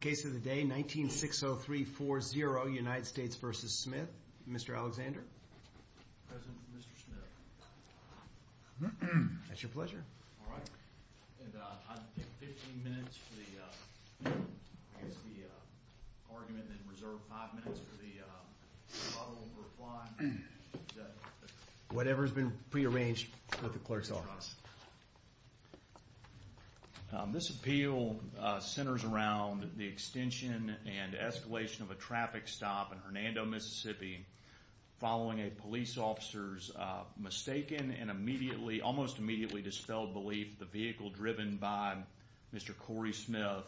case of the day nineteen six oh three four zero united states vs. smith mister alexander that's your pleasure whatever's been prearranged with the clerks office uh... this appeal uh... centers around the extension and escalation of a traffic stop in hernando mississippi following a police officer's uh... mistaken and immediately almost immediately dispelled belief the vehicle driven by mister corey smith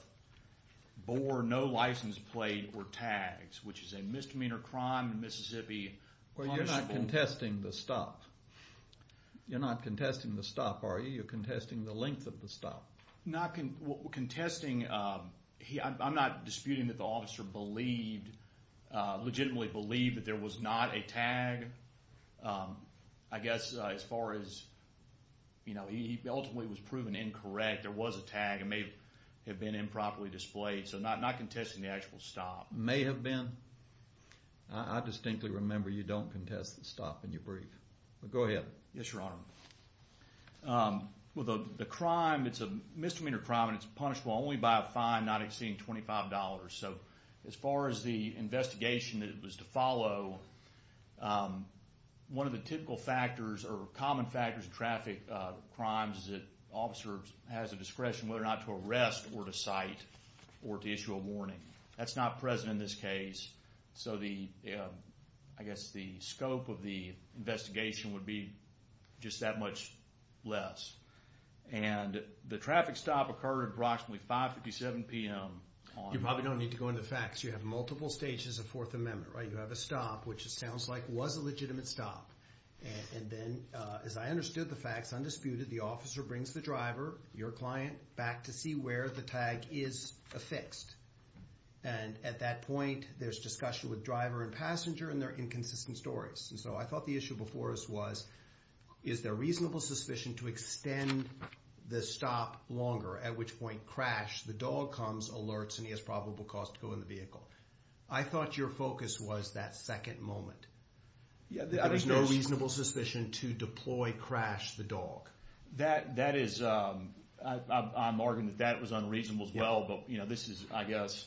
bore no license plate or tags which is a misdemeanor crime in mississippi well you're not contesting the stop you're not contesting the stop are you you're contesting the length of the stop not contesting uh... i'm not disputing that the officer believed uh... legitimately believed that there was not a tag i guess uh... as far as you know he ultimately was proven incorrect there was a tag it may have been improperly displayed so not not contesting the actual stop may have been i distinctly remember you don't contest the stop in your brief go ahead yes your honor uh... well the crime it's a misdemeanor crime and it's punishable only by a fine not exceeding twenty five dollars so as far as the investigation that was to follow uh... one of the typical factors or common factors of traffic uh... crimes is that officers has a discretion whether or not to arrest or to cite or to issue a warning that's not present in this case so the uh... i guess the scope of the investigation would be just that much less and uh... the traffic stop occurred approximately five fifty seven p m you probably don't need to go into the facts you have multiple stages of fourth amendment right you have a stop which sounds like was a legitimate stop and then uh... as i understood the facts undisputed the officer brings the driver your client back to see where the tag is affixed and at that point there's discussion with driver and passenger and their inconsistent stories so i thought the issue before us was is there reasonable suspicion to extend the stop longer at which point crash the dog comes alerts and he has probable cause to go in the vehicle i thought your focus was that second moment there is no reasonable suspicion to deploy crash the dog that that is uh... i'm arguing that that was unreasonable as well but this is i guess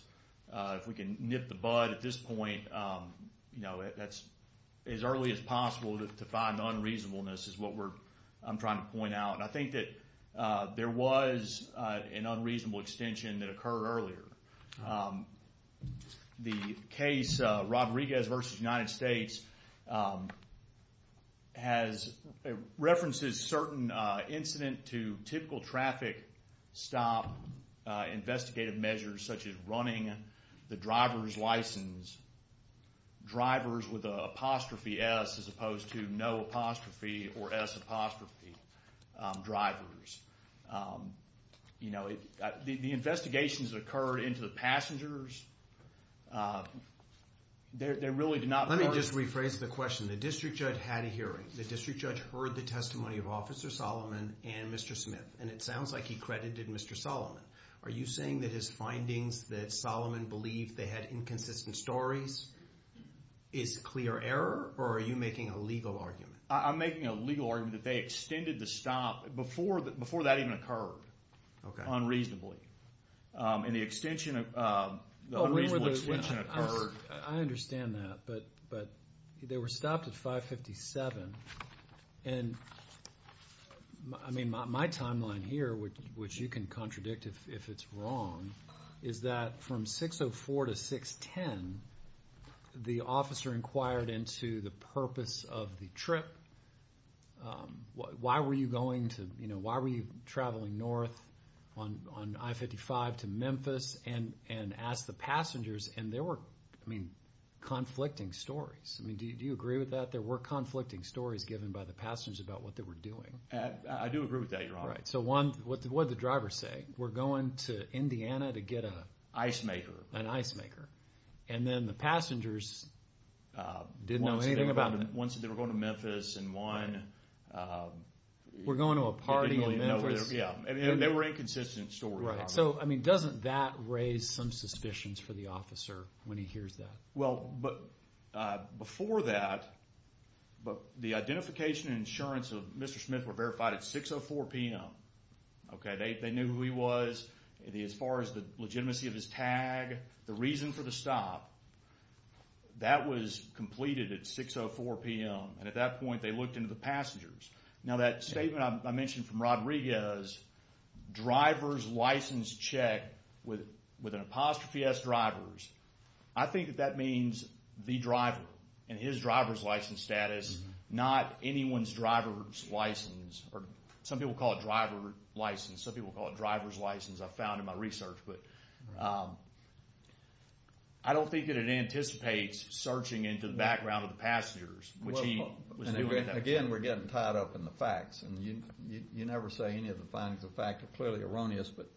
uh... if we can nip the bud at this point as early as possible to find unreasonableness is what i'm trying to point out and i think that uh... there was uh... an unreasonable extension that occurred earlier the case uh... rodriguez versus united states uh... has references certain uh... incident to typical traffic stop uh... investigative measures such as running the driver's license drivers with a apostrophe s as opposed to no apostrophe or s apostrophe uh... drivers you know the investigations occurred into the passengers uh... they really did not let me just rephrase the question the district judge had a hearing the district judge heard the testimony of officer solomon and mister smith and it sounds like he credited mister solomon are you saying that his findings that solomon believed they had inconsistent stories is clear error or are you making a legal argument i'm making a legal argument that they extended the stop before that even occurred unreasonably uh... in the extension of uh... unreasonable extension occurred i understand that but they were stopped at five fifty seven i mean my timeline here which you can contradict if it's wrong is that from six oh four to six ten the officer inquired into the purpose of the trip uh... why were you going to you know why were you traveling north on on i-55 to memphis and and ask the passengers and there were conflicting stories do you agree with that there were conflicting stories given by the passengers about what they were doing i do agree with that your honor what did the driver say we're going to indiana to get a ice maker an ice maker and then the passengers uh... didn't know anything about it once they were going to memphis and one uh... we're going to a party in memphis and they were inconsistent stories so i mean doesn't that raise some suspicions for the officer when he hears that well but uh... before that but the identification insurance of mr smith were verified at six oh four p m okay they knew who he was as far as the legitimacy of his tag the reason for the stop that was completed at six oh four p m and at that point they looked into the now that statement i mentioned from rodriguez drivers license check with an apostrophe s drivers i think that that means the driver and his driver's license status not anyone's driver's license some people call it driver license some people call it driver's license i found in my research but i don't think that it anticipates searching into the background of the tied up in the facts and you can you never say anything about the fact that clearly erroneous but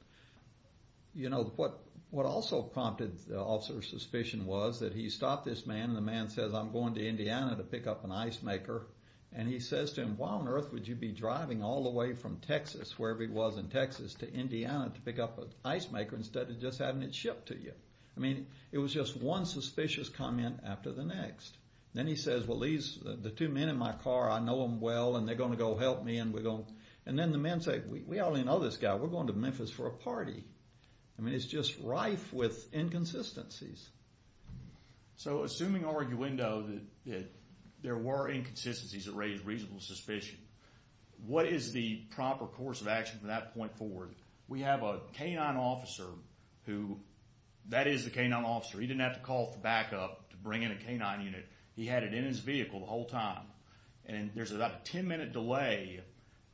you know what what also prompted the officer's suspicion was that he stopped this man and the man says i'm going to indiana to pick up an ice maker and he says to him why on earth would you be driving all the way from texas where he was in texas to indiana to pick up an ice maker instead of just having it shipped to you it was just one suspicious comment after the next then he says well these the two men in my car i know them well and they're going to go help me and we're going and then the man said we only know this guy we're going to memphis for a party i mean it's just rife with inconsistencies so assuming arguendo there were inconsistencies that raised reasonable suspicion what is the proper course of action from that point forward we have a canine officer who that is the canine officer he didn't have to call for backup to bring in a canine unit he had it in his vehicle the whole time and there's about a ten minute delay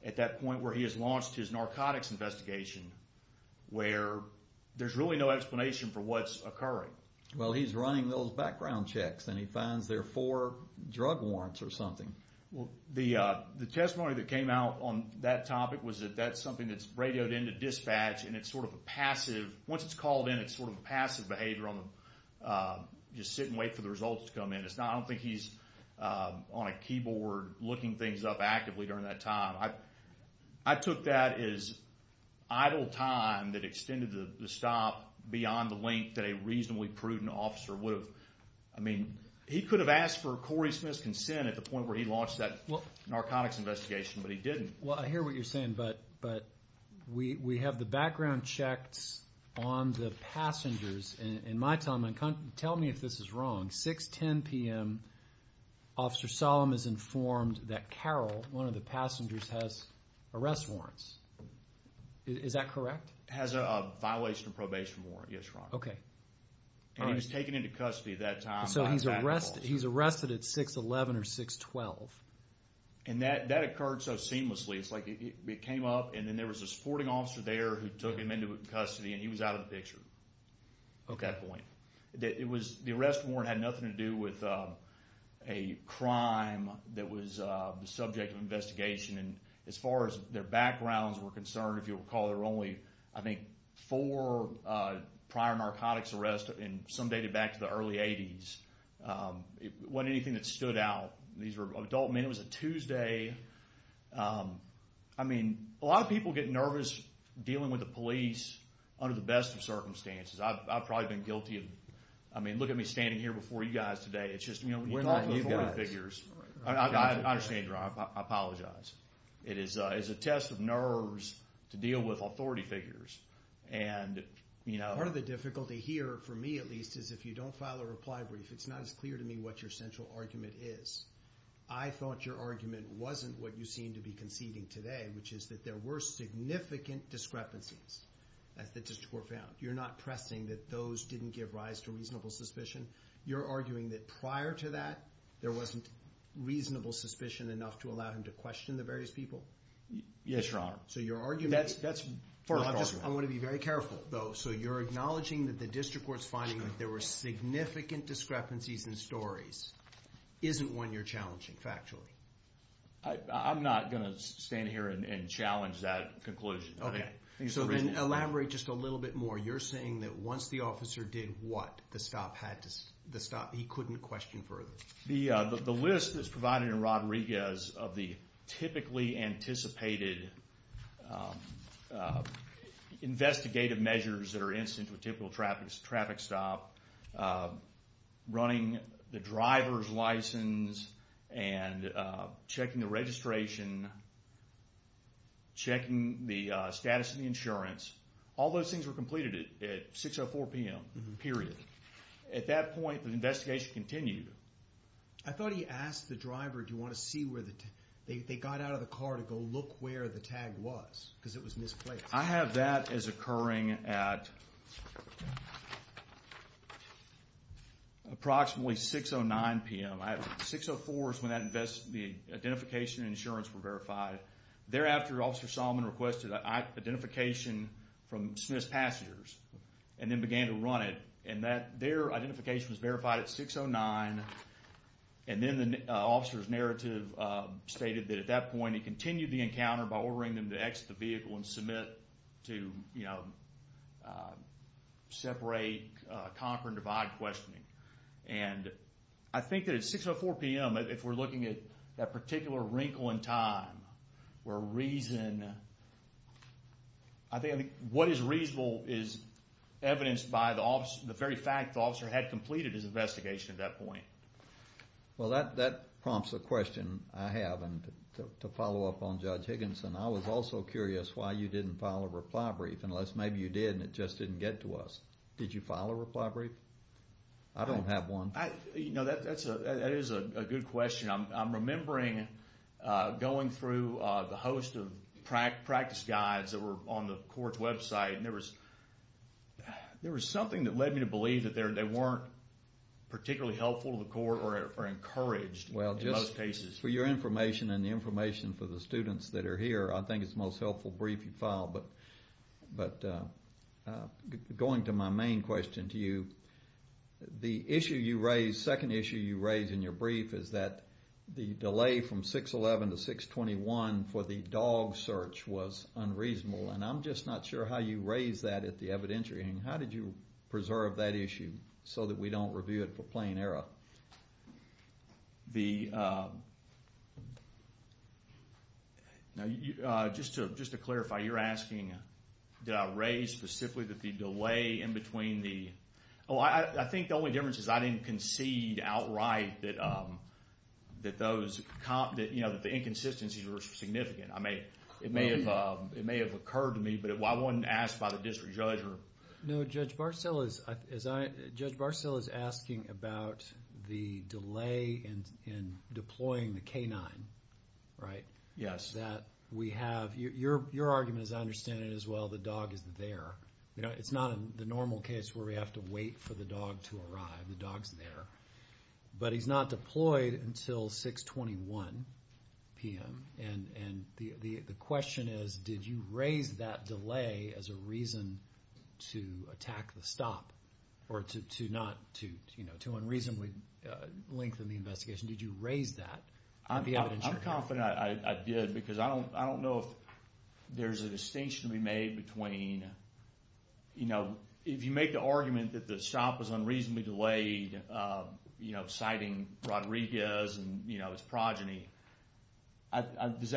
at that point where he has launched his narcotics investigation where there's really no explanation for what's occurring well he's running those background checks and he finds there four drug warrants or something the uh... the testimony that came out on that topic was that that's something that's radioed in to dispatch and it's sort of a passive once it's called in it's sort of a passive behavior uh... just sit and wait for the results to come in it's not i don't think he's uh... on a keyboard looking things up actively during that time i took that as idle time that extended the stop beyond the length that a reasonably prudent officer would have he could have asked for corey smith's consent at the point where he launched that narcotics investigation but he didn't well i hear what you're saying but we we have the background checks on the passengers and in my time tell me if this is wrong six ten p m officer solemn is informed that carol one of the passengers has arrest warrants is that correct has a violation of probation warrant yes your honor he was taken into custody at that time so he's arrested he's arrested at six eleven or six twelve and that that occurred so seamlessly it's like it came up and then there was a sporting officer there who took him into custody and he was out of the picture it was the arrest warrant had nothing to do with uh... a crime that was uh... the subject of investigation as far as their backgrounds were concerned if you recall there were only four uh... prior narcotics arrest in some data back to the early eighties uh... it wasn't anything that stood out these were adult men it was a tuesday i mean a lot of people get nervous dealing with the police under the best of circumstances i've i've probably been guilty of i mean look at me standing here before you guys today it's just you know when you've got authority figures i understand your honor i apologize it is uh... it's a test of nerves to deal with authority figures and you know part of the difficulty here for me at least is if you don't file a reply brief it's not as clear to me what your central argument is i thought your argument wasn't what you seem to be conceding today which is that there were significant discrepancies as the district court found you're not pressing that those didn't give rise to reasonable suspicion you're arguing that prior to that there wasn't reasonable suspicion enough to allow him to question the various people yes your honor so your argument that's that's i want to be very careful though so you're acknowledging that the district court's finding that there were significant discrepancies in stories isn't one you're challenging factually i'm not gonna stand here and challenge that conclusion so then elaborate just a little bit more you're saying that once the officer did what the stop had to the stop he couldn't question further the uh... the list that's provided in rodriguez of the typically anticipated investigative measures that are incidental to typical traffic stop running the driver's license and uh... checking the registration checking the uh... status of the insurance all those things were completed at six oh four p m at that point the investigation continued i thought he asked the driver do you want to see where the they got out of the car to go look where the tag was because it was misplaced i have that as occurring at approximately six oh nine p m six oh four is when that invests the identification insurance were verified thereafter officer solomon requested identification from smith's passengers and then began to run it and that their identification was verified at six oh nine and then the officer's narrative uh... stated that at that point he continued the encounter by ordering them to exit the vehicle and submit to you know separate uh... conquer and divide questioning and i think that at six oh four p m if we're looking at that particular wrinkle in time where reason i think what is reasonable is well that that prompts a question i haven't to follow up on judge higginson i was also curious why you didn't file a reply brief unless maybe you did and it just didn't get to us did you file a reply brief i don't have one you know that is a good question i'm remembering uh... going through uh... the host of practice guides that were on the court's website and there was there was something that led me to believe that they weren't particularly helpful to the court or encouraged well just for your information and information for the students that are here i think it's most helpful brief you file but but uh... uh... going to my main question to you the issue you raise second issue you raise in your brief is that the delay from six eleven to six twenty one for the dog search was unreasonable and i'm just not sure how you raise that at the evidentiary how did you preserve that issue so that we don't review it for plain error the uh... uh... just to clarify you're asking did i raise specifically the delay in between the i think the only difference is i didn't concede outright that uh... that those that the inconsistencies were significant it may have occurred to me but i wasn't asked by the district judge no judge barcello is asking about the delay in deploying the canine yes that we have your argument as i understand it as well the dog is there it's not the normal case where we have to wait for the dog to arrive the dog's there but he's not deployed until six twenty one p.m. and and the question is did you raise that delay as a reason to attack the stop or to not to you know to unreasonably lengthen the investigation did you raise that i'm confident i did because i don't know if there's a distinction to be made between if you make the argument that the stop was unreasonably delayed uh... you know citing rodriguez and you know his progeny does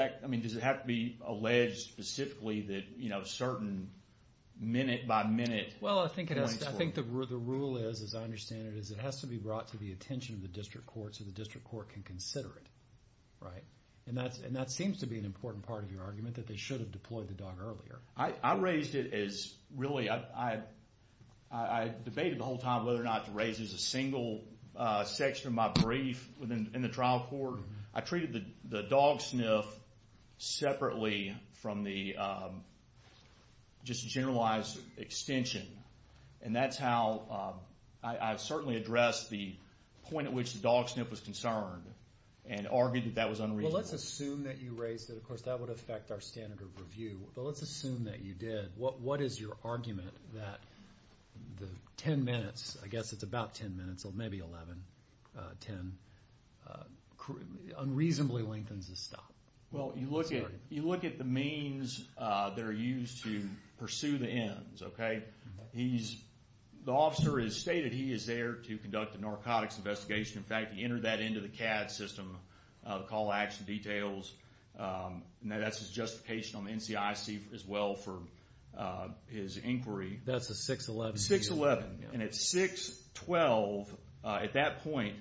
it have to be alleged specifically that you know certain minute-by-minute well i think i think that we're the rule is as i understand it is it has to be brought to the attention of the district court so the district court can consider it and that's and that seems to be an important part of your argument that they should have deployed the dog earlier i'd raised it is really i i'd i'd debate the whole time whether or not raises a single uh... section of my brief within in the trial court i treated the dog sniff separately from the uh... just generalize extension and that's how uh... i'd certainly address the point which dog sniff was concerned and argued that was unreasonable let's assume that you raised it of course that would affect our standard of review but let's assume that you did what what is your argument ten minutes i guess it's about ten minutes or maybe eleven uh... ten uh... unreasonably lengthens the stop well you look at you look at the means uh... they're used to pursue the ends okay he's the officer is stated he is there to conduct a narcotics investigation in fact he entered that into the cad system uh... call-action details uh... that's his justification on the ncic as well for uh... his inquiry that's a six eleven six eleven and at six twelve uh... at that point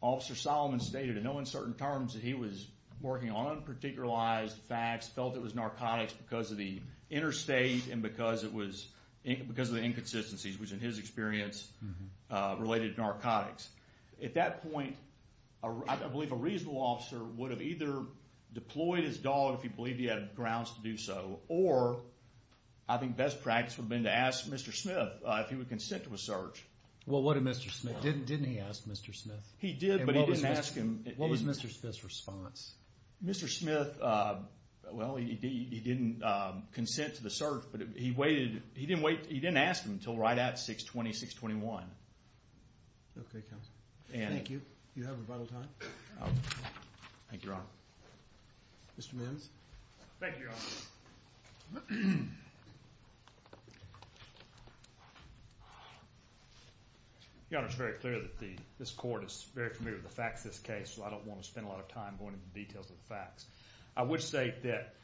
officer solomon stated in no uncertain terms that he was working on a particular lies facts felt it was narcotics because of the interstate and because it was because of the inconsistencies which in his experience uh... related narcotics at that point uh... i don't believe a reasonable officer would have either deployed his dog if he believed he had grounds to do so or i think best practice would have been to ask mister smith if he would consent to a search well what did mister smith, didn't he ask mister smith he did but he didn't ask him what was mister smith's response mister smith uh... well he didn't uh... consent to the search but he waited he didn't wait he didn't ask him until right at six twenty six twenty one you have rebuttal time thank you your honor mister mims thank you your honor your honor it's very clear that the this court is very familiar with the facts of this case so i don't want to spend a lot of time going into the details of the facts i would say that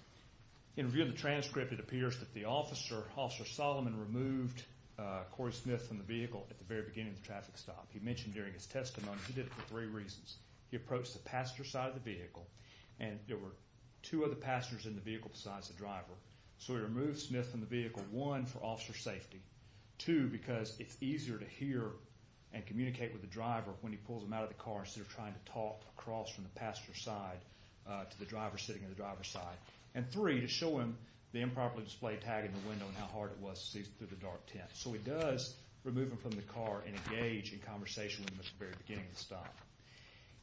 in review of the transcript it appears that the officer officer solomon removed uh... cory smith from the vehicle at the very beginning of the traffic stop he mentioned during his testimony he did it for three reasons he approached the passenger side of the vehicle and there were two other passengers in the vehicle besides the driver so he removed smith from the vehicle one for officer safety two because it's easier to hear and communicate with the driver when he pulls him out of the car instead of trying to talk across from the passenger side uh... to the driver sitting on the driver's side and three to show him the improperly displayed tag in the window and how hard it was to see through the dark tint so he does remove him from the car and engage in conversation with him at the very beginning of the stop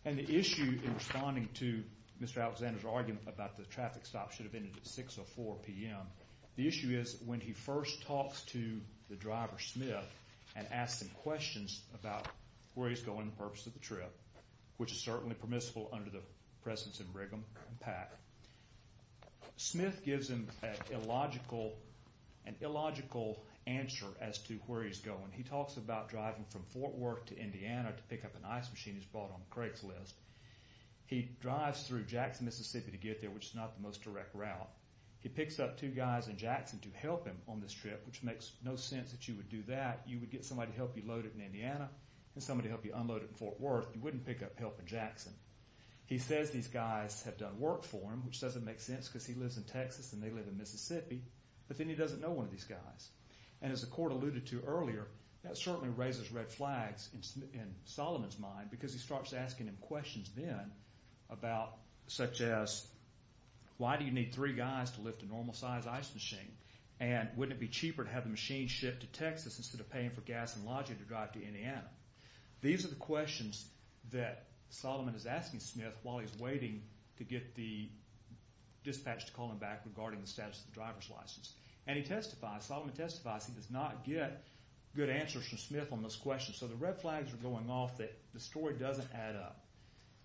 and the issue in responding to mister alexander's argument about the traffic stop should have ended at 6 or 4 p.m. the issue is when he first talks to the driver smith and asks him questions about where he's going and the purpose of the trip which is certainly permissible under the presence of righam and pack smith gives him an illogical an illogical answer as to where he's going he talks about driving from fort worth to indiana to pick up an ice machine he's bought on craigslist he drives through jackson mississippi to get there which is not the most direct route he picks up two guys in jackson to help him on this trip which makes no sense that you would do that you would get somebody to help you load it in indiana and somebody to help you unload it in fort worth you wouldn't pick up help in jackson he says these guys have done work for him which doesn't make sense because he lives in texas and they live in mississippi but then he doesn't know one of these guys and as the court alluded to earlier that certainly raises red flags in solomon's mind because he starts asking him questions then about such as why do you need three guys to lift a normal size ice machine and wouldn't it be cheaper to have the machine shipped to texas instead of paying for gas and lodging to drive to indiana these are the questions that solomon is asking smith while he's waiting to get the dispatch to call him back regarding the status of the driver's license and he testifies solomon testifies he does not get good answers from smith on those questions so the red flags are going off that the story doesn't add up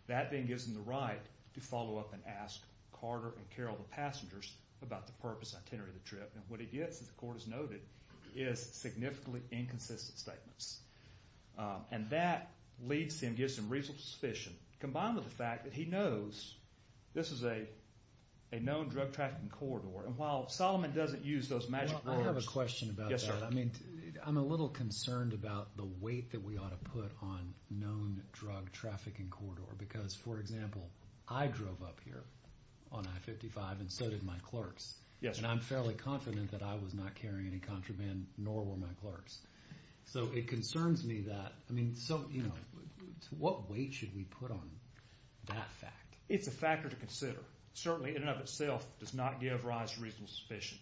that then gives him the right to follow up and ask carter and carol the passengers about the purpose and itinerary of the trip and what he gets as the court has noted is significantly inconsistent statements uh... and that leads him gives him reasonable suspicion combined with the fact that he knows this is a a known drug trafficking corridor and while solomon doesn't use those magic words i have a question about that i'm a little concerned about the weight that we ought to put on known drug trafficking corridor because for example i drove up here on i-55 and so did my clerks and i'm fairly confident that i was not carrying any contraband nor were my clerks so it concerns me that i mean so you know what weight should we put on that fact it's a factor to consider certainly in and of itself does not give rise to reasonable suspicion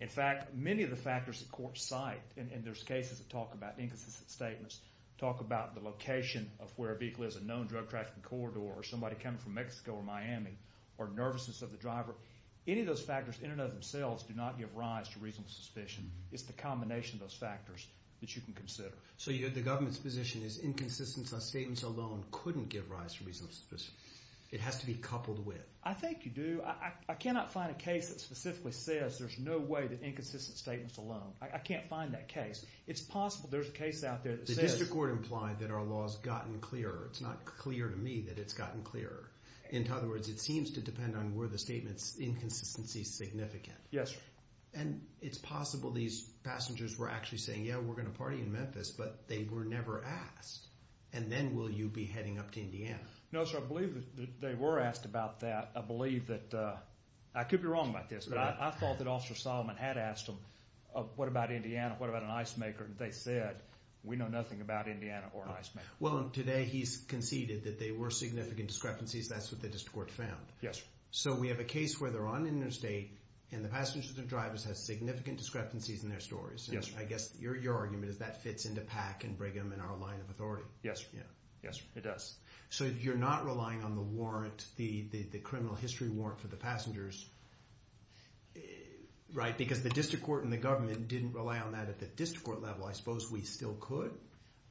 in fact many of the factors that courts cite and there's cases that talk about inconsistent statements talk about the location of where a vehicle is a known drug trafficking corridor or somebody coming from mexico or miami or nervousness of the driver any of those factors in and of themselves do not give rise to reasonable suspicion it's the combination of those factors that you can consider so the government's position is inconsistent statements alone couldn't give rise to reasonable suspicion it has to be coupled with i think you do, i cannot find a case that specifically says there's no way that inconsistent statements alone, i can't find that case it's possible there's a case out there that says the district court implied that our law has gotten clearer, it's not clear to me that it's gotten clearer in other words it seems to depend on where the statement's inconsistency is significant and it's possible these passengers were actually saying yeah we're going to party in memphis but they were never asked and then will you be heading up to indiana no sir, i believe that they were asked about that, i believe that i could be wrong about this, but i thought that officer solomon had asked them what about indiana, what about an ice maker, and they said we know nothing about indiana or an ice maker well today he's conceded that they were significant discrepancies, that's what the district court found so we have a case where they're on interstate and the passengers and drivers have significant discrepancies in their stories i guess your argument is that fits into pack and brigham and our line of authority yes sir, it does so you're not relying on the warrant, the criminal history warrant for the passengers right, because the district court and the government didn't rely on that at the district court level i suppose we still could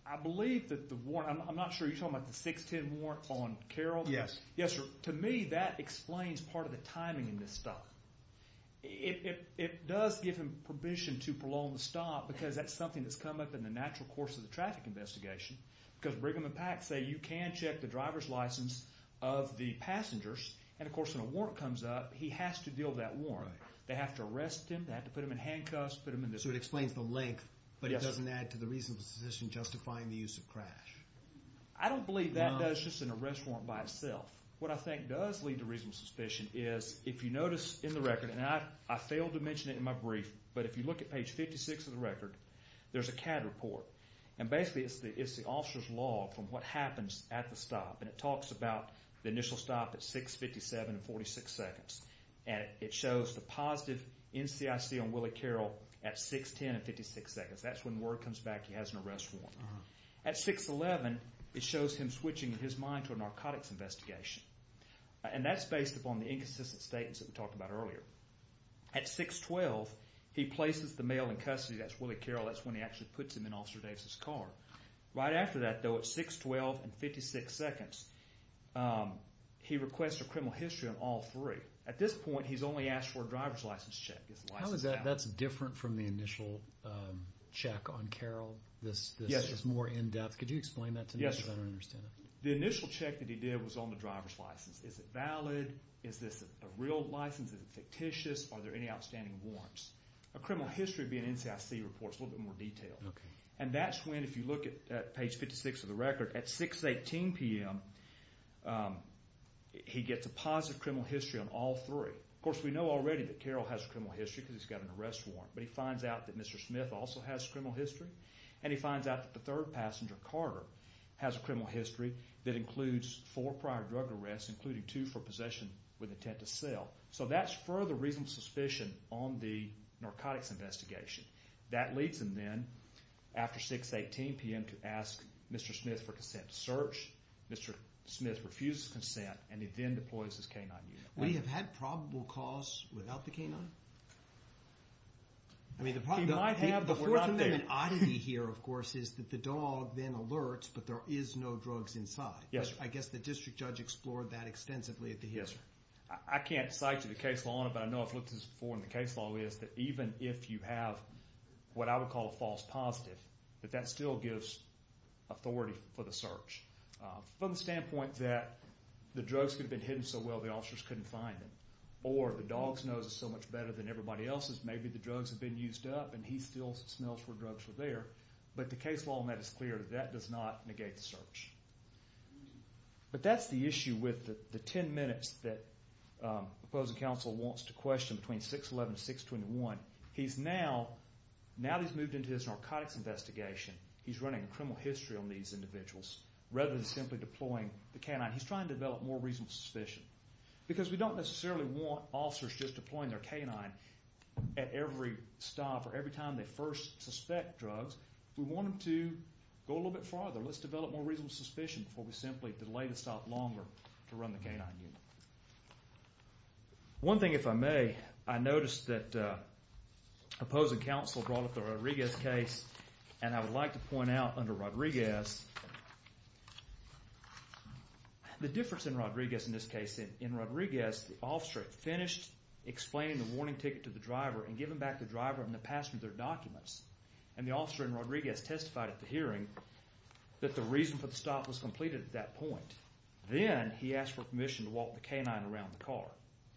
i believe that the warrant, i'm not sure you're talking about the 610 warrant on carol yes sir to me that explains part of the timing in this stop it does give him permission to prolong the stop because that's something that's come up in the natural course of the traffic investigation because brigham and pack say you can check the driver's license of the passengers and of course when a warrant comes up he has to deal with that warrant they have to arrest him, they have to put him in handcuffs, put him in this so it explains the length, but it doesn't add to the reasonable suspicion justifying the use of crash i don't believe that does just an arrest warrant by itself what i think does lead to reasonable suspicion is if you notice in the record and i failed to mention it in my brief but if you look at page 56 of the record there's a cad report and basically it's the officer's log from what happens at the stop and it talks about the initial stop at 657 and 46 seconds and it shows the positive NCIC on willie carol at 610 and 56 seconds that's when word comes back he has an arrest warrant at 611 it shows him switching his mind to a narcotics investigation and that's based upon the inconsistent statements that we talked about earlier at 612 he places the male in custody, that's willie carol that's when he actually puts him in officer dave's car right after that though at 612 and 56 seconds he requests a criminal history on all three at this point he's only asked for a driver's license check how is that different from the initial check on carol this is more in depth, could you explain that to me the initial check that he did was on the driver's license, is it valid is this a real license, is it fictitious, are there any outstanding warrants a criminal history being NCIC reports a little bit more detailed and that's when if you look at page 56 of the record at 618 pm he gets a positive criminal history on all three of course we know already that carol has a criminal history because he's got an arrest warrant but he finds out that mr smith also has criminal history and he finds out that the third passenger carter has a criminal history that includes four prior drug arrests including two for possession with intent to sell so that's further reasonable suspicion on the narcotics investigation that leads him then after 618 pm to ask mr smith for consent to search mr smith refuses consent and he then deploys his canine unit we have had probable cause without the canine i mean the problem might have the fourth and then an oddity here of course is that the dog then alerts but there is no drugs inside yes i guess the district judge explored that extensively at the history i can't cite you the case law on it but i know i've looked at this before and the case law is that even if you have what i would call a false positive that that still gives authority for the search from the standpoint that the drugs could have been hidden so well the officers couldn't find them or the dog's nose is so much better than everybody else's maybe the drugs have been used up and he still smells where drugs were there but the case law on that is clear that does not negate the search but that's the issue with the 10 minutes that opposing counsel wants to question between 611 to 621 he's now now he's moved into his narcotics investigation he's running a criminal history on these individuals rather than simply deploying the canine he's trying to develop more reasonable suspicion because we don't necessarily want officers just deploying their canine at every stop or every time they first suspect drugs we want them to go a little bit farther let's develop more reasonable suspicion before we simply delay the stop longer to run the canine unit one thing if i may i noticed that opposing counsel brought up the rodriguez case and i would like to point out under rodriguez the difference in rodriguez in this case in rodriguez the officer finished explaining the warning ticket to the driver and giving back the driver and the passenger their documents and the officer in rodriguez testified at the hearing that the reason for the stop was completed at that point then he asked for permission to walk the canine around the car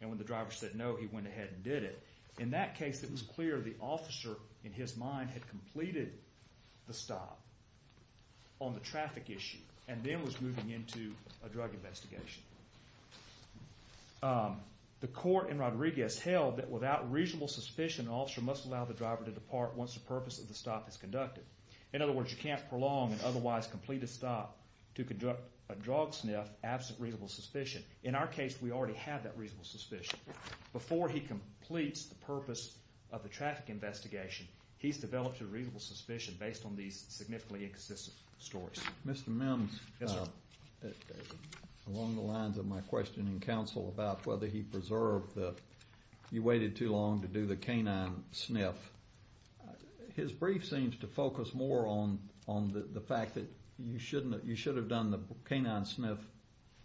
and when the driver said no he went ahead and did it in that case it was clear the officer in his mind had completed the stop on the traffic issue and then was moving into a drug investigation the court in rodriguez held that without reasonable suspicion officer must allow the driver to depart once the purpose of the stop is conducted in other words you can't prolong and otherwise complete a stop to conduct a drug sniff absent reasonable suspicion in our case we already have that reasonable suspicion before he completes the purpose of the traffic investigation he's developed a reasonable suspicion based on these significantly inconsistent stories Mr. Mims, along the lines of my questioning counsel about whether he preserved the you waited too long to do the canine sniff his brief seems to focus more on on the fact that you shouldn't you should have done the canine sniff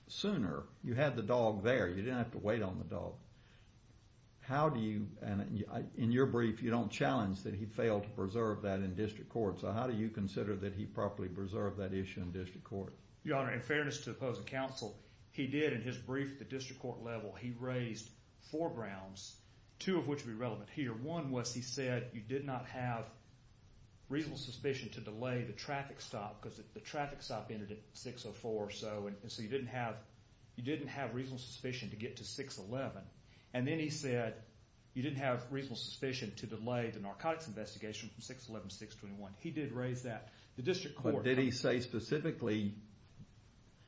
sooner you had the dog there you didn't have to wait on the dog how do you and in your brief you don't challenge that he failed to preserve that in district court so how do you consider that he properly preserved that issue in district court your honor in fairness to opposing counsel he did in his brief at the district court level he raised four grounds two of which would be relevant here one was he said you did not have reasonable suspicion to delay the traffic stop because the traffic stop ended at 6.04 so and so you didn't have you didn't have reasonable suspicion to get to 6.11 and then he said you didn't have reasonable suspicion to delay the narcotics investigation from 6.11 to 6.21 he did raise that the district court did he say specifically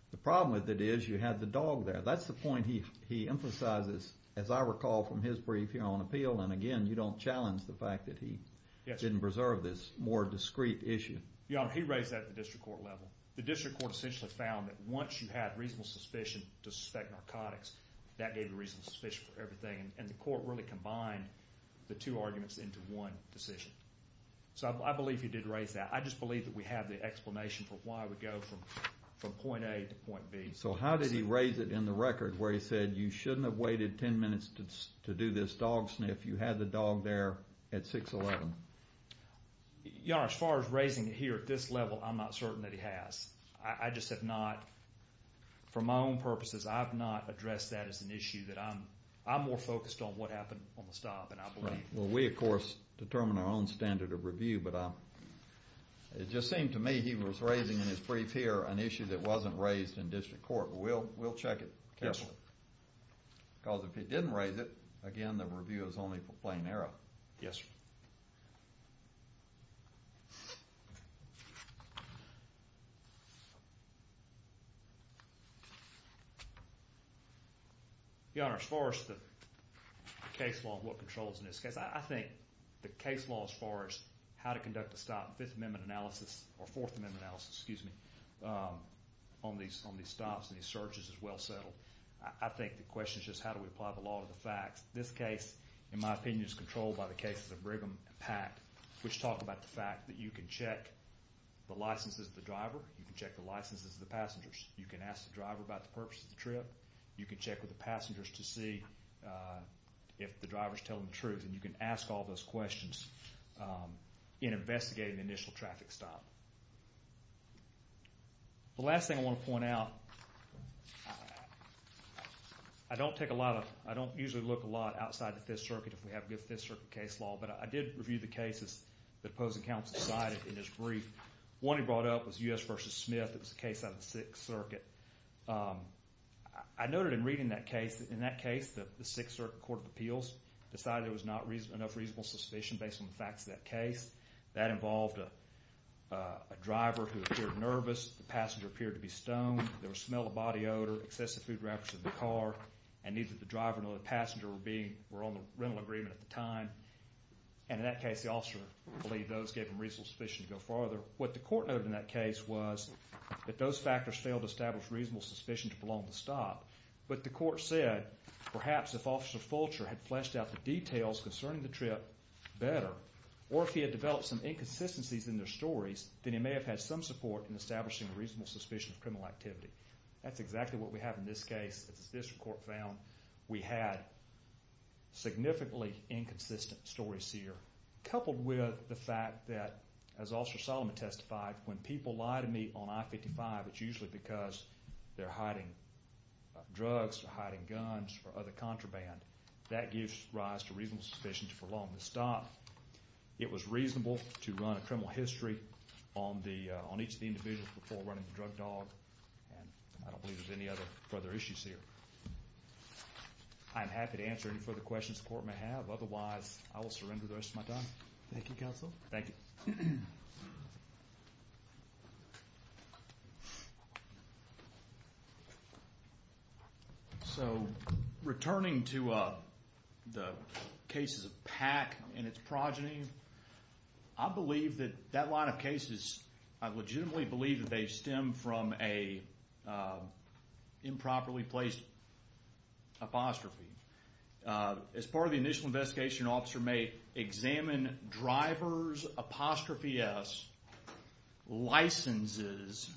the problem with it is you had the dog there that's the point he he emphasizes as I recall from his brief here on appeal and again you don't challenge the fact that he didn't preserve this more discreet issue your honor he raised that at the district court level the district court essentially found that once you had reasonable suspicion to suspect narcotics that gave you reasonable suspicion for everything and the court really combined the two arguments into one decision so I believe he did raise that I just believe that we have the explanation for why we go from from point a to point b so how did he raise it in the record where he said you shouldn't have waited 10 minutes to do this dog sniff you had the dog there at 6.11 your honor as far as raising it here at this level I'm not certain that he has I just have not for my own purposes I've not addressed that as an issue that I'm I'm more focused on what happened on the stop and I believe well we of course determine our own standard of review but I it just seemed to me he was raising in his brief here an issue that wasn't raised in district court we'll check it carefully because if he didn't raise it again the review is only for plain error your honor as far as the case law what controls in this case I think the case law as far as how to conduct a stop fifth amendment analysis or fourth amendment analysis excuse me on these on these stops and these searches is well settled I think the question is just how do we apply the law to the facts this case in my opinion is controlled by the cases of Brigham and Pack which talk about the fact that you can check the licenses of the driver you can check the licenses of the passengers you can ask the driver about the purpose of the trip you can check with the passengers to see if the driver's telling the truth and you can ask all those questions um in investigating the initial traffic stop the last thing I want to point out I don't take a lot of I don't usually look a lot outside the fifth circuit if we have good fifth circuit case law but I did review the cases that opposing counsel cited in his brief one he brought up was U.S. versus Smith it was a case out of the sixth circuit um I noted in reading that case in that case that the sixth circuit court of appeals decided there was not reason enough reasonable suspicion based on the facts of that case that involved a driver who appeared nervous the passenger appeared to be stoned there was smell of body odor excessive food wrappers in the car and neither the driver nor the passenger were being were on the rental agreement at the time and in that case the officer believed those gave him reasonable suspicion to go farther what the court noted in that case was that those factors failed to establish reasonable suspicion to prolong the stop but the court said perhaps if officer Fulcher had fleshed out the details concerning the trip better or if he had developed some inconsistencies in their stories then he may have had some support in establishing a reasonable suspicion of criminal activity that's exactly what we have in this case this court found we had significantly inconsistent stories here coupled with the fact that as officer Solomon testified when people lie to me on I-55 it's usually because they're hiding drugs or hiding guns or other contraband that gives rise to reasonable suspicion to prolong the stop it was reasonable to run a criminal history on the on each of the individuals before running the drug dog and I don't believe there's any other further issues here I'm happy to answer any further questions the court may have otherwise I will surrender the rest of my time thank you thank you so returning to the cases of pack and its progeny I believe that that line of cases I legitimately believe that they stem from a improperly placed apostrophe as part of the initial investigation officer may examine drivers apostrophe s licenses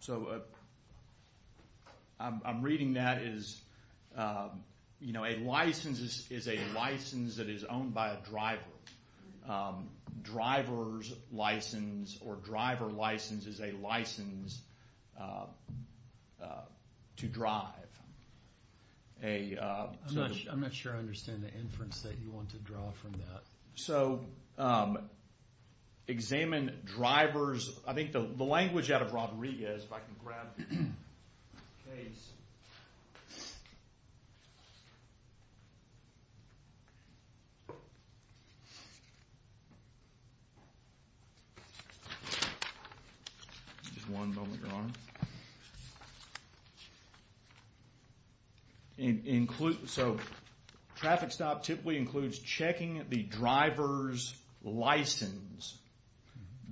so I'm reading that is you know a license is a license that is owned by a driver driver's license or driver license is a so examine drivers I think the language out of robbery is if I can grab just one moment your honor include so traffic stop typically includes checking the driver's license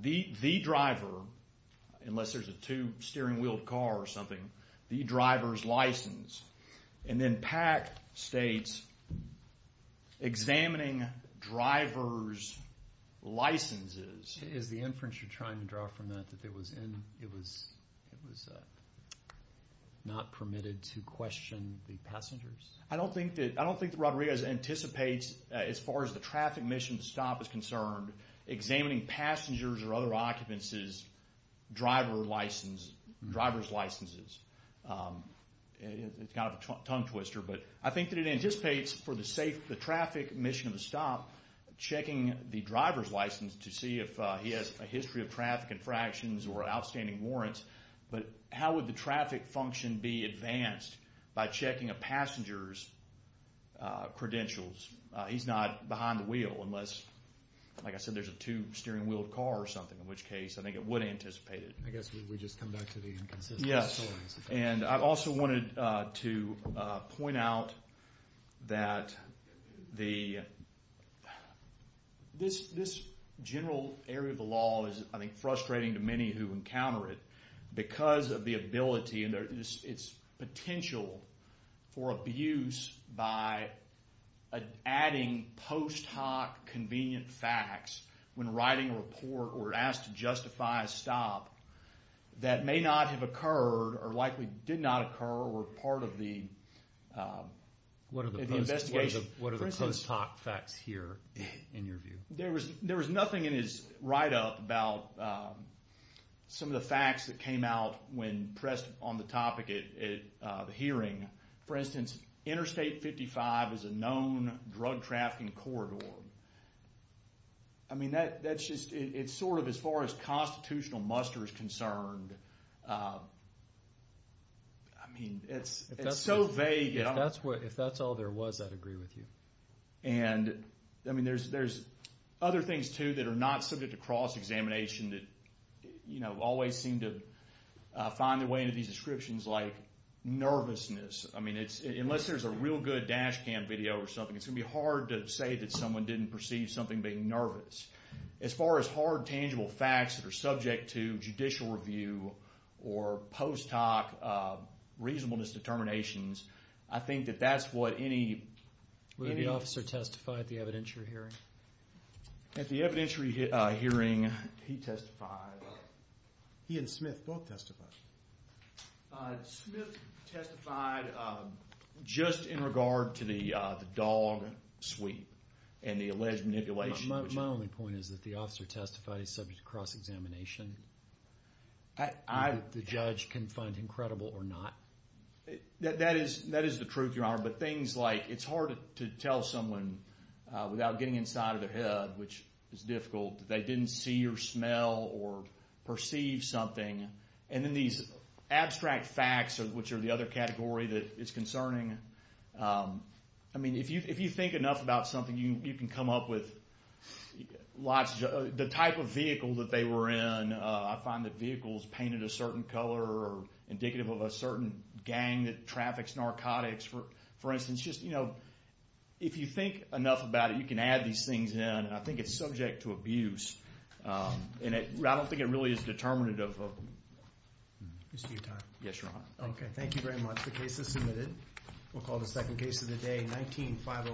the the driver unless there's a two steering wheel car or something the driver's license and then pack states examining drivers licenses is the inference you're trying to draw from that that there was in it was it was not permitted to question the passengers I don't think that I don't think robbery as anticipates as far as the traffic mission stop is concerned examining passengers or other occupancies driver license driver's licenses. It's kind of a tongue twister but I think that it anticipates for the safe the traffic mission of the stop checking the driver's to see if he has a history of traffic infractions or outstanding warrants but how would the traffic function be advanced by checking a passenger's credentials he's not behind the wheel unless like I said there's a two steering wheel car or something in which case I think it would anticipate it I guess we just come back to the inconsistencies yes and I've also wanted to point out that the this this general area of the law is I think frustrating to many who encounter it because of the ability and it's potential for abuse by adding post hoc convenient facts when writing a report or asked to justify a stop that may not have occurred or likely did not occur or part of the what are the investigation what are the post hoc facts here in your view there was there was nothing in his write up about some of the facts that came out when pressed on the topic hearing for instance interstate fifty five is a known drug trafficking corridor I mean that that's just it's sort of as far as constitutional muster is concerned I mean it's so vague that's what if that's all there was I'd agree with you and I mean there's there's other things too that are not subject to cross examination that you know always seem to find their way into these descriptions like nervousness I mean it's unless there's a real good dash cam video or something it's gonna be hard to say that someone didn't perceive something being nervous as far as hard tangible facts that are subject to judicial review or post hoc reasonableness determinations I think that that's what any officer testified at the evidentiary hearing at the evidentiary hearing he testified he and Smith both testified Smith testified just in regard to the dog sweep and the alleged manipulation my only point is that the officer testified is subject to cross examination and I the judge can find incredible or not that that is that is the truth your honor but things like it's hard to tell someone without getting inside of their head which is difficult they didn't see or smell or perceive something and then these abstract facts or which are the other category that is concerning I mean if you if you think enough about something you you can come up with lots of the type of vehicle that they were in I find that vehicles painted a certain color or indicative of a certain gang that traffics narcotics for for instance just you know if you think enough about it you can add these things in I think it's subject to abuse and it I don't think it really is determinative of dispute time yes your honor okay thank you much the case is submitted we'll call the second case of the day 19